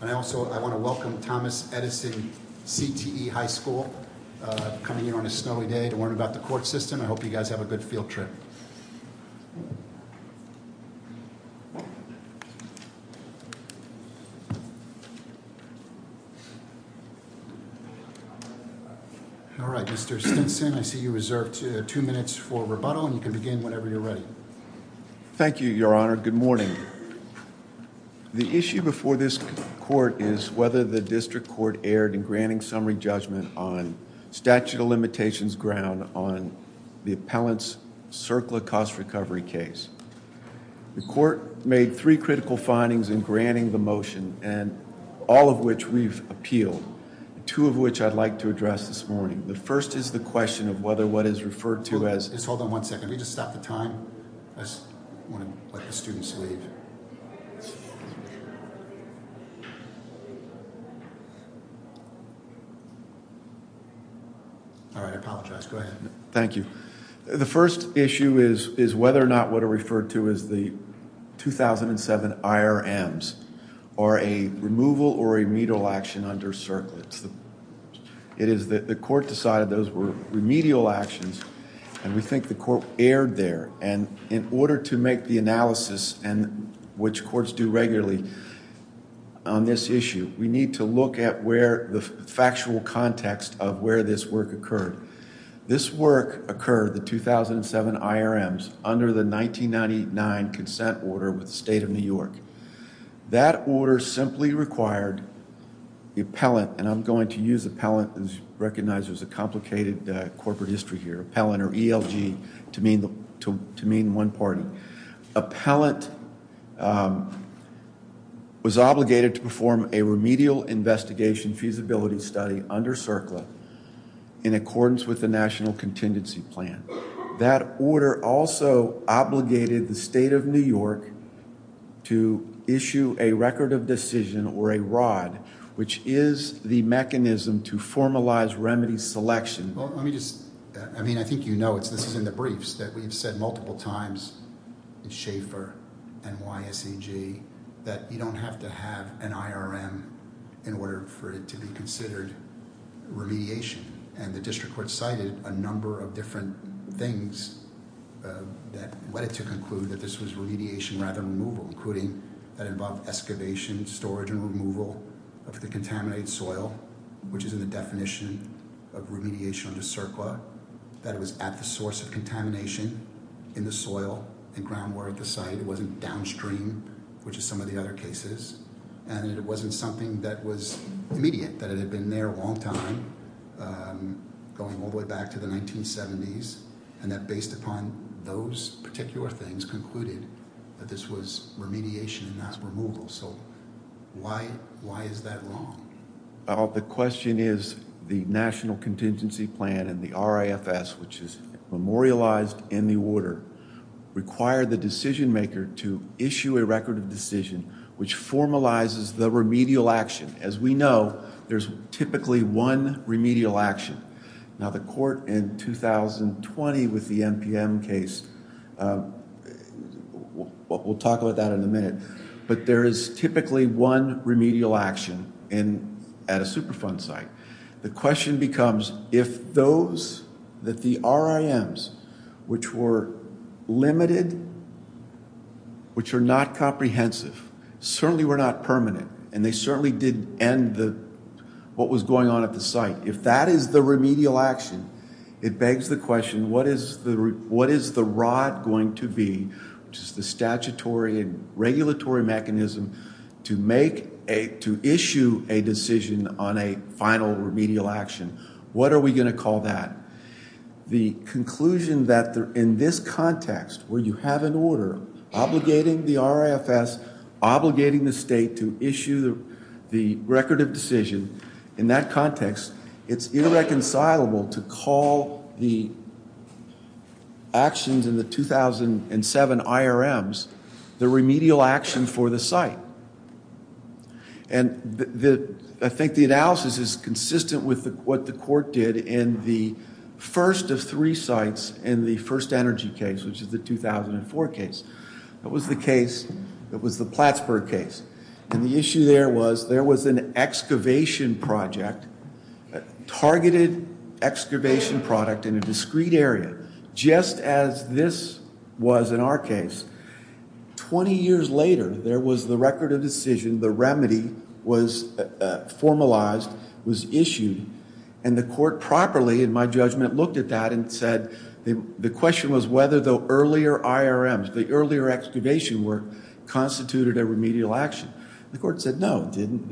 And also I want to welcome Thomas Edison, CTE High School coming here on a snowy day to learn about the court system. I hope you guys have a good field trip. All right, Mr. Stinson, I see you reserved two minutes for rebuttal and you can begin whenever you're ready. Thank you, Your Honor. Good morning. The issue before this court is whether the district court erred in granting summary judgment on statute of limitations ground on the appellant's CERCLA cost recovery case. The court made three critical findings in granting the motion and all of which we've appealed, two of which I'd like to address this morning. The first is the question of whether what is referred to as... Just hold on one second. Can we just stop the time? I just want to let the students leave. All right, I apologize. Go ahead. Thank you. The first issue is whether or not what are referred to as the 2007 IRMs are a removal or a medial action under CERCLA. The court decided those were remedial actions and we think the court erred there. In order to make the analysis, which courts do regularly on this issue, we need to look at the factual context of where this work occurred. This work occurred, the 2007 IRMs, under the 1999 consent order with the State of New York. That order simply required the appellant, and I'm going to use appellant as you recognize there's a complicated corporate history here, appellant or ELG to mean one party. Appellant was obligated to perform a remedial investigation feasibility study under CERCLA in accordance with the national contingency plan. That order also obligated the State of New York to issue a record of decision or a ROD, which is the mechanism to formalize remedy selection. Well, let me just... I mean, I think you know this is in the briefs that we've said multiple times in Schaefer and YSEG that you don't have to have an IRM in order for it to be considered remediation. And the district court cited a number of different things that led it to conclude that this was remediation rather than removal, including that it involved excavation, storage, and removal of the contaminated soil, which is in the definition of remediation under CERCLA, that it was at the source of contamination in the soil and ground water at the site. It wasn't downstream, which is some of the other cases. And it wasn't something that was immediate, that it had been there a long time, going all the way back to the 1970s, and that based upon those particular things concluded that this was remediation and not removal. So why is that long? The question is the national contingency plan and the RAFS, which is memorialized in the order, require the decision maker to issue a record of decision which formalizes the remedial action. As we know, there's typically one remedial action. Now, the court in 2020 with the NPM case, we'll talk about that in a minute, but there is typically one remedial action at a Superfund site. The question becomes if those that the RIMs, which were limited, which were not comprehensive, certainly were not permanent, and they certainly did end what was going on at the site, if that is the remedial action, it begs the question, what is the rod going to be, which is the statutory and regulatory mechanism to issue a decision on a final remedial action? What are we going to call that? The conclusion that in this context where you have an order obligating the RAFS, obligating the state to issue the record of decision, in that context, it's irreconcilable to call the actions in the 2007 IRMs the remedial action for the site. I think the analysis is consistent with what the court did in the first of three sites in the first energy case, which is the 2004 case. That was the case, that was the Plattsburgh case, and the issue there was there was an excavation project, targeted excavation product in a discrete area, just as this was in our case. Twenty years later, there was the record of decision. The remedy was formalized, was issued, and the court properly, in my judgment, looked at that and said the question was whether the earlier IRMs, the earlier excavation work, constituted a remedial action. The court said no, it didn't.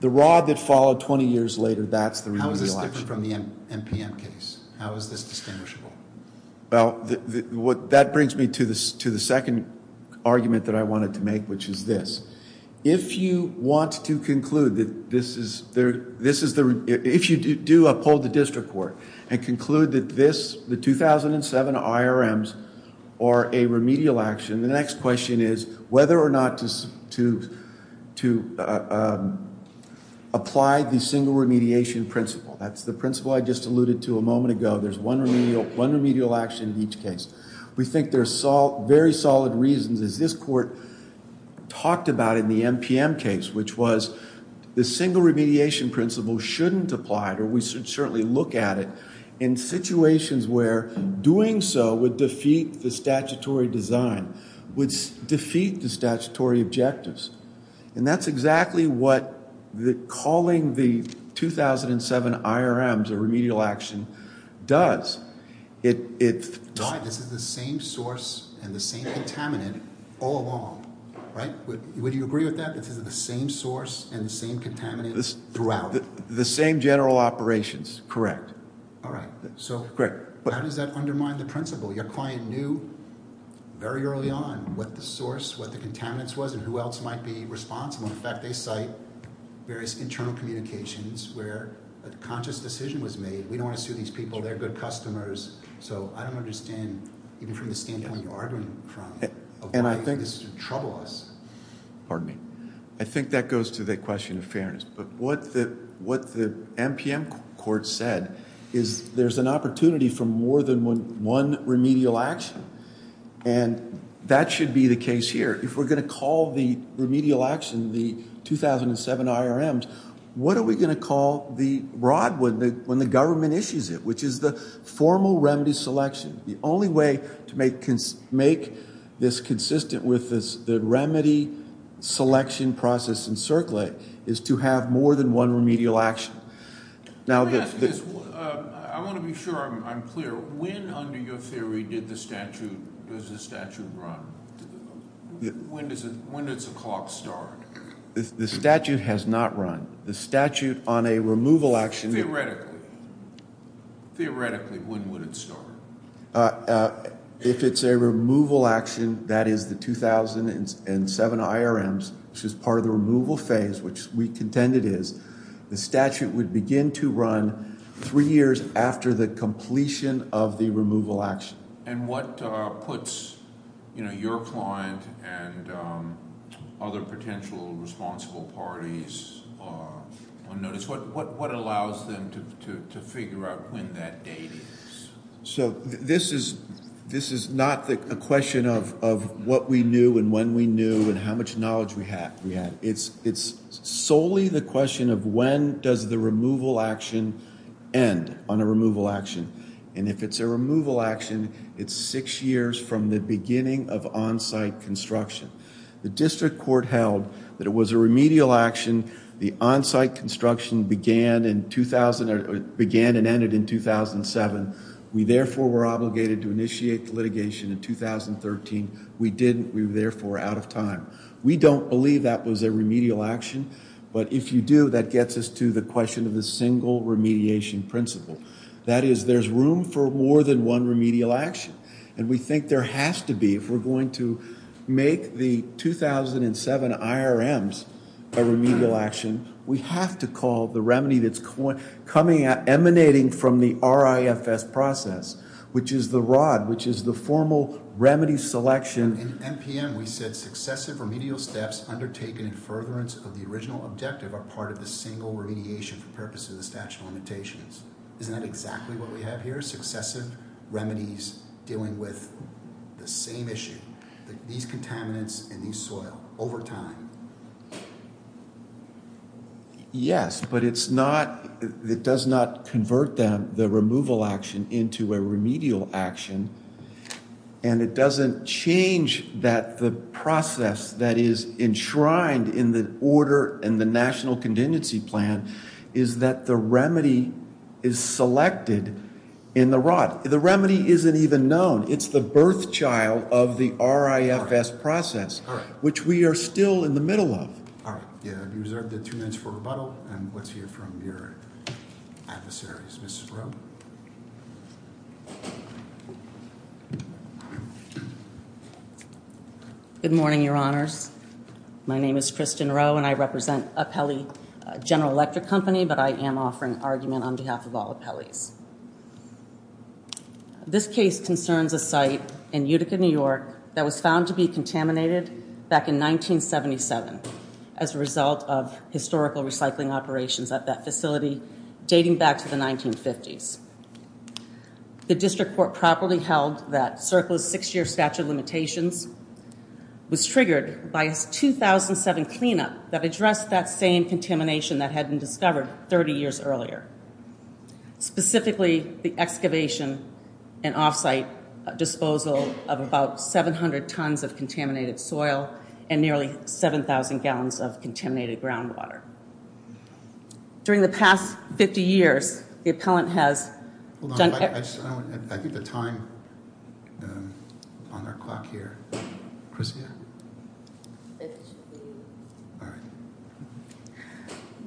The rod that followed 20 years later, that's the remedial action. How is this different from the MPM case? How is this distinguishable? Well, that brings me to the second argument that I wanted to make, which is this. If you want to conclude that this is, if you do uphold the district court and conclude that this, the 2007 IRMs are a remedial action, the next question is whether or not to apply the single remediation principle. That's the principle I just alluded to a moment ago. There's one remedial action in each case. We think there's very solid reasons, as this court talked about in the MPM case, which was the single remediation principle shouldn't apply, or we should certainly look at it, in situations where doing so would defeat the statutory design, would defeat the statutory objectives. And that's exactly what calling the 2007 IRMs a remedial action does. Right, this is the same source and the same contaminant all along, right? Would you agree with that? This is the same source and the same contaminant throughout? The same general operations, correct. All right. So how does that undermine the principle? Your client knew very early on what the source, what the contaminants was, and who else might be responsible. In fact, they cite various internal communications where a conscious decision was made. We don't want to sue these people. They're good customers. So I don't understand, even from the standpoint you're arguing from, of why this would trouble us. Pardon me. I think that goes to the question of fairness. But what the MPM court said is there's an opportunity for more than one remedial action, and that should be the case here. If we're going to call the remedial action the 2007 IRMs, what are we going to call the broad one when the government issues it, which is the formal remedy selection? The only way to make this consistent with the remedy selection process in CERCLA is to have more than one remedial action. Let me ask this. I want to be sure I'm clear. When, under your theory, does the statute run? When does the clock start? The statute has not run. The statute on a removal action- Theoretically. Theoretically, when would it start? If it's a removal action, that is the 2007 IRMs, which is part of the removal phase, which we contend it is, the statute would begin to run three years after the completion of the removal action. And what puts your client and other potential responsible parties on notice? What allows them to figure out when that date is? This is not a question of what we knew and when we knew and how much knowledge we had. It's solely the question of when does the removal action end on a removal action. And if it's a removal action, it's six years from the beginning of on-site construction. The district court held that it was a remedial action. The on-site construction began and ended in 2007. We, therefore, were obligated to initiate litigation in 2013. We didn't. We were, therefore, out of time. We don't believe that was a remedial action. But if you do, that gets us to the question of the single remediation principle. That is, there's room for more than one remedial action. And we think there has to be. If we're going to make the 2007 IRMs a remedial action, we have to call the remedy that's emanating from the RIFS process, which is the ROD, which is the formal remedy selection. In NPM, we said successive remedial steps undertaken in furtherance of the original objective are part of the single remediation for purposes of the statute of limitations. Isn't that exactly what we have here? Successive remedies dealing with the same issue. These contaminants and these soil over time. Yes, but it's not. It does not convert the removal action into a remedial action. And it doesn't change that the process that is enshrined in the order and the national contingency plan is that the remedy is selected in the ROD. The remedy isn't even known. It's the birth child of the RIFS process, which we are still in the middle of. All right. You have two minutes for rebuttal, and let's hear from your adversaries. Mrs. Rowe? Good morning, Your Honors. My name is Kristen Rowe, and I represent Apelli General Electric Company, but I am offering argument on behalf of all Apelli's. This case concerns a site in Utica, New York, that was found to be contaminated back in 1977 as a result of historical recycling operations at that facility dating back to the 1950s. The district court properly held that CERCLA's six-year statute of limitations was triggered by its 2007 cleanup that addressed that same contamination that had been discovered 30 years earlier, specifically the excavation and off-site disposal of about 700 tons of contaminated soil and nearly 7,000 gallons of contaminated groundwater. During the past 50 years, the appellant has done... I think the time on our clock here...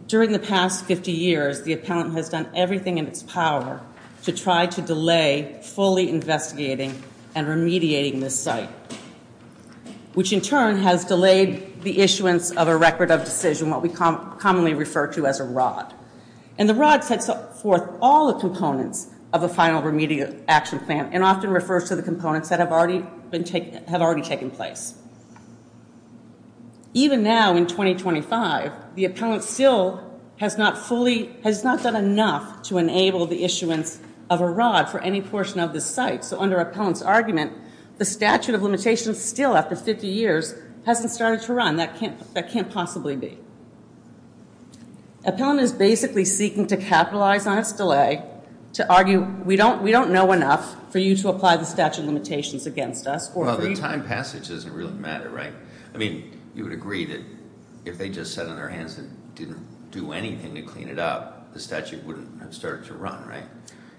During the past 50 years, the appellant has done everything in its power to try to delay fully investigating and remediating this site, which in turn has delayed the issuance of a record of decision, what we commonly refer to as a ROD. And the ROD sets forth all the components of a final remediation action plan and often refers to the components that have already taken place. Even now, in 2025, the appellant still has not fully... has not done enough to enable the issuance of a ROD for any portion of the site, so under appellant's argument, the statute of limitations still, after 50 years, hasn't started to run. That can't possibly be. Appellant is basically seeking to capitalize on its delay to argue, we don't know enough for you to apply the statute of limitations against us. Well, the time passage doesn't really matter, right? I mean, you would agree that if they just sat on their hands and didn't do anything to clean it up, the statute wouldn't have started to run, right?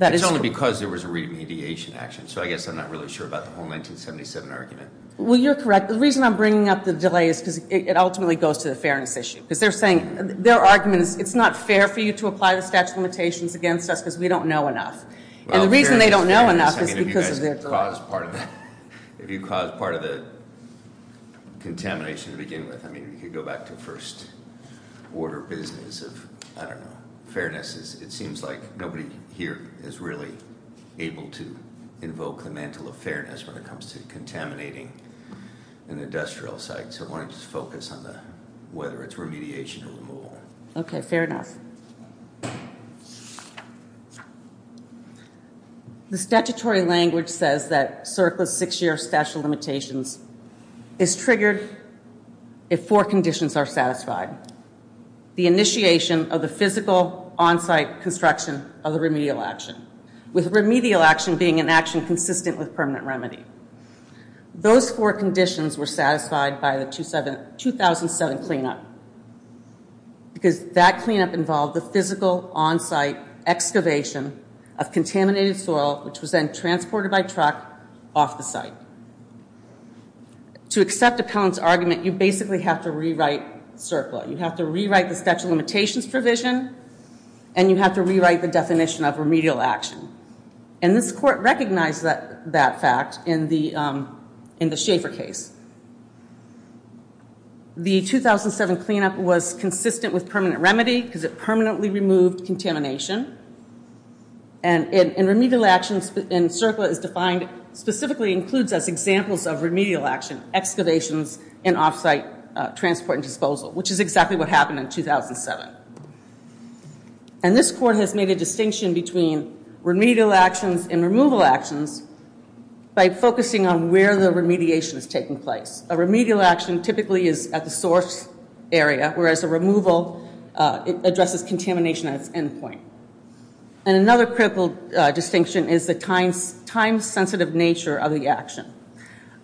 It's only because there was a remediation action, so I guess I'm not really sure about the whole 1977 argument. Well, you're correct. The reason I'm bringing up the delay is because it ultimately goes to the fairness issue. Because they're saying, their argument is, it's not fair for you to apply the statute of limitations against us because we don't know enough. And the reason they don't know enough is because of their delay. If you cause part of the contamination to begin with, I mean, you could go back to first order business of, I don't know, fairness. It seems like nobody here is really able to invoke the mantle of fairness when it comes to contaminating an industrial site. So I wanted to focus on whether it's remediation or removal. Okay, fair enough. The statutory language says that CERCLA's six-year statute of limitations is triggered if four conditions are satisfied. The initiation of the physical on-site construction of the remedial action, with remedial action being an action consistent with permanent remedy. Those four conditions were satisfied by the 2007 cleanup. Because that cleanup involved the physical on-site excavation of contaminated soil, which was then transported by truck off the site. To accept Appellant's argument, you basically have to rewrite CERCLA. You have to rewrite the statute of limitations provision, and you have to rewrite the definition of remedial action. And this court recognized that fact in the Schaefer case. The 2007 cleanup was consistent with permanent remedy because it permanently removed contamination. And remedial action in CERCLA is defined, specifically includes as examples of remedial action, excavations in off-site transport and disposal, which is exactly what happened in 2007. And this court has made a distinction between remedial actions and removal actions by focusing on where the remediation is taking place. A remedial action typically is at the source area, whereas a removal addresses contamination at its end point. And another critical distinction is the time-sensitive nature of the action.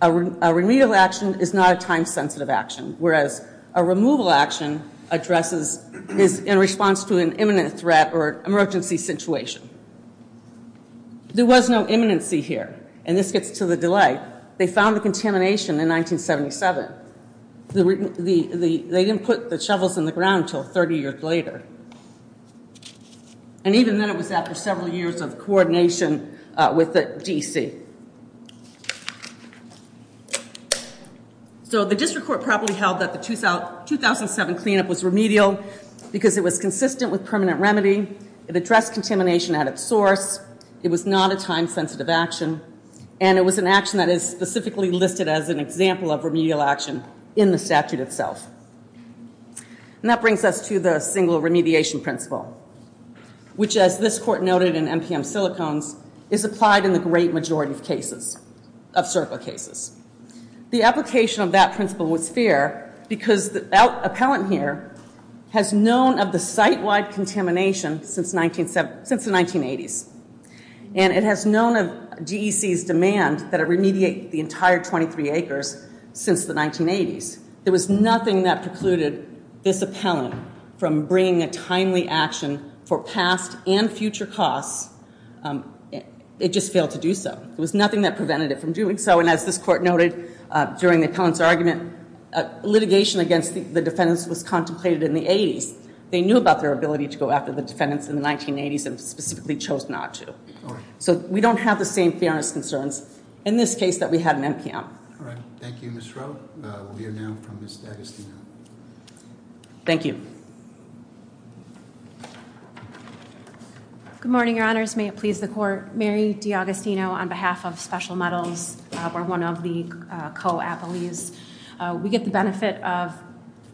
A remedial action is not a time-sensitive action, whereas a removal action is in response to an imminent threat or emergency situation. There was no imminency here, and this gets to the delay. They found the contamination in 1977. They didn't put the shovels in the ground until 30 years later. And even then it was after several years of coordination with the D.C. So the district court probably held that the 2007 cleanup was remedial because it was consistent with permanent remedy, it addressed contamination at its source, it was not a time-sensitive action, and it was an action that is specifically listed as an example of remedial action in the statute itself. And that brings us to the single remediation principle, which as this court noted in NPM silicones, is applied in the great majority of cases. Of circle cases. The application of that principle was fair because the appellant here has known of the site-wide contamination since the 1980s. And it has known of DEC's demand that it remediate the entire 23 acres since the 1980s. There was nothing that precluded this appellant from bringing a timely action for past and future costs. It just failed to do so. There was nothing that prevented it from doing so. And as this court noted during the appellant's argument, litigation against the defendants was contemplated in the 80s. They knew about their ability to go after the defendants in the 1980s and specifically chose not to. So we don't have the same fairness concerns in this case that we had in NPM. Thank you, Ms. Rowe. We are now from Ms. D'Agostino. Thank you. Good morning, your honors. May it please the court. Mary D'Agostino on behalf of Special Medals, we're one of the co-appellees. We get the benefit of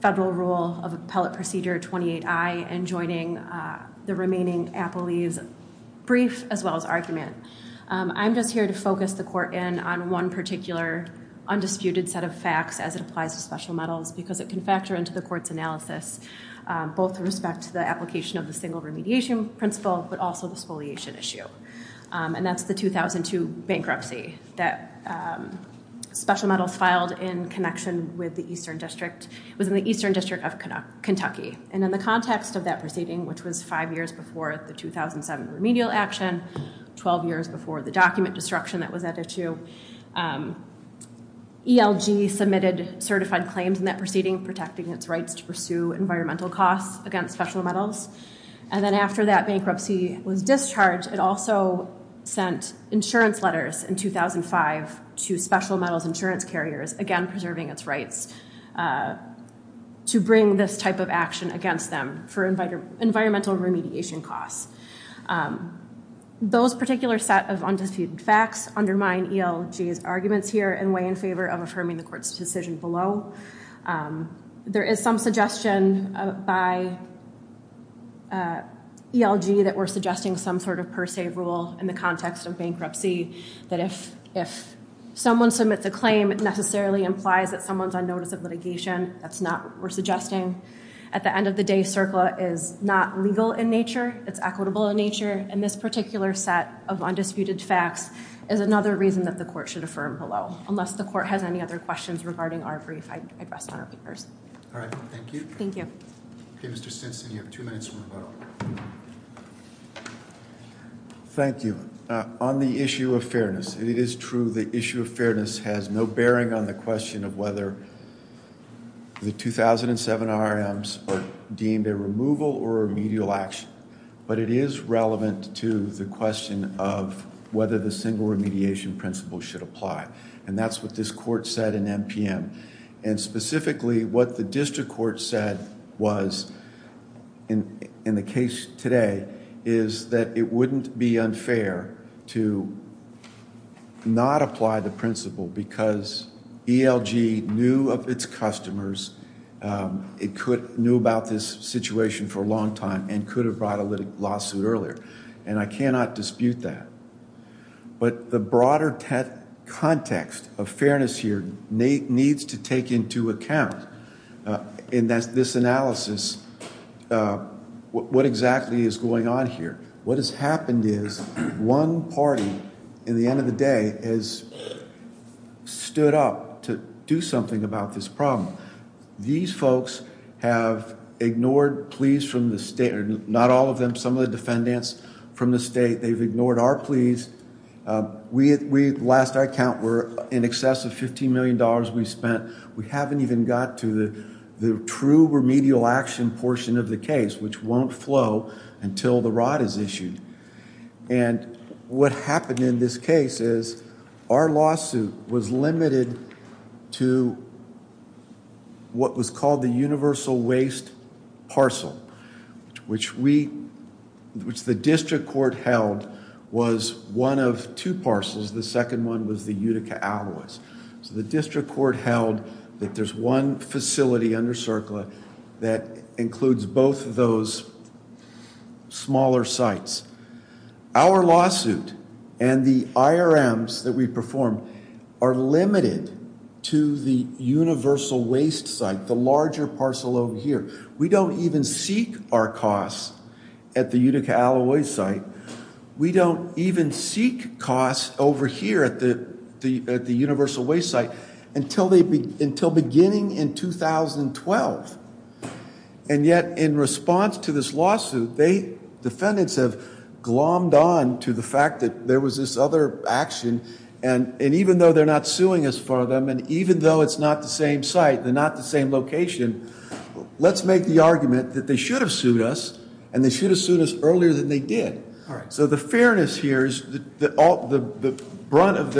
federal rule of appellate procedure 28I and joining the remaining appellees' brief as well as argument. I'm just here to focus the court in on one particular undisputed set of facts as it applies to Special Medals because it can factor into the court's analysis, both with respect to the application of the single remediation principle, but also the spoliation issue. And that's the 2002 bankruptcy that Special Medals filed in connection with the Eastern District. It was in the Eastern District of Kentucky. And in the context of that proceeding, which was five years before the 2007 remedial action, 12 years before the document destruction that was added to, ELG submitted certified claims in that proceeding, protecting its rights to pursue environmental costs against Special Medals. And then after that bankruptcy was discharged, it also sent insurance letters in 2005 to Special Medals insurance carriers, again preserving its rights to bring this type of action against them for environmental remediation costs. Those particular set of undisputed facts undermine ELG's arguments here and weigh in favor of affirming the court's decision below. There is some suggestion by ELG that we're suggesting some sort of per se rule in the context of bankruptcy that if someone submits a claim, it necessarily implies that someone's on notice of litigation. That's not what we're suggesting. At the end of the day, CERCLA is not legal in nature. It's equitable in nature. And this particular set of undisputed facts is another reason that the court should affirm below, unless the court has any other questions regarding our brief I addressed on our papers. All right. Thank you. Thank you. Okay, Mr. Stinson, you have two minutes to rebuttal. Thank you. On the issue of fairness, it is true the issue of fairness has no bearing on the question of whether the 2007 RRMs are deemed a removal or remedial action. But it is relevant to the question of whether the single remediation principle should apply. And that's what this court said in NPM. And specifically, what the district court said was, in the case today, is that it wouldn't be unfair to not apply the principle because ELG knew of its customers. It knew about this situation for a long time and could have brought a lawsuit earlier. And I cannot dispute that. But the broader context of fairness here needs to take into account in this analysis what exactly is going on here. What has happened is one party, at the end of the day, has stood up to do something about this problem. These folks have ignored pleas from the state, or not all of them, some of the defendants from the state. They've ignored our pleas. We, at last I count, were in excess of $15 million we spent. We haven't even got to the true remedial action portion of the case, which won't flow until the rod is issued. And what happened in this case is our lawsuit was limited to what was called the universal waste parcel, which the district court held was one of two parcels. The second one was the Utica alloys. So the district court held that there's one facility under CERCLA that includes both of those smaller sites. Our lawsuit and the IRMs that we perform are limited to the universal waste site, the larger parcel over here. We don't even seek our costs at the Utica alloy site. We don't even seek costs over here at the universal waste site until beginning in 2012. And yet in response to this lawsuit, the defendants have glommed on to the fact that there was this other action. And even though they're not suing us for them, and even though it's not the same site, they're not the same location, let's make the argument that they should have sued us, and they should have sued us earlier than they did. So the fairness here is the brunt of the.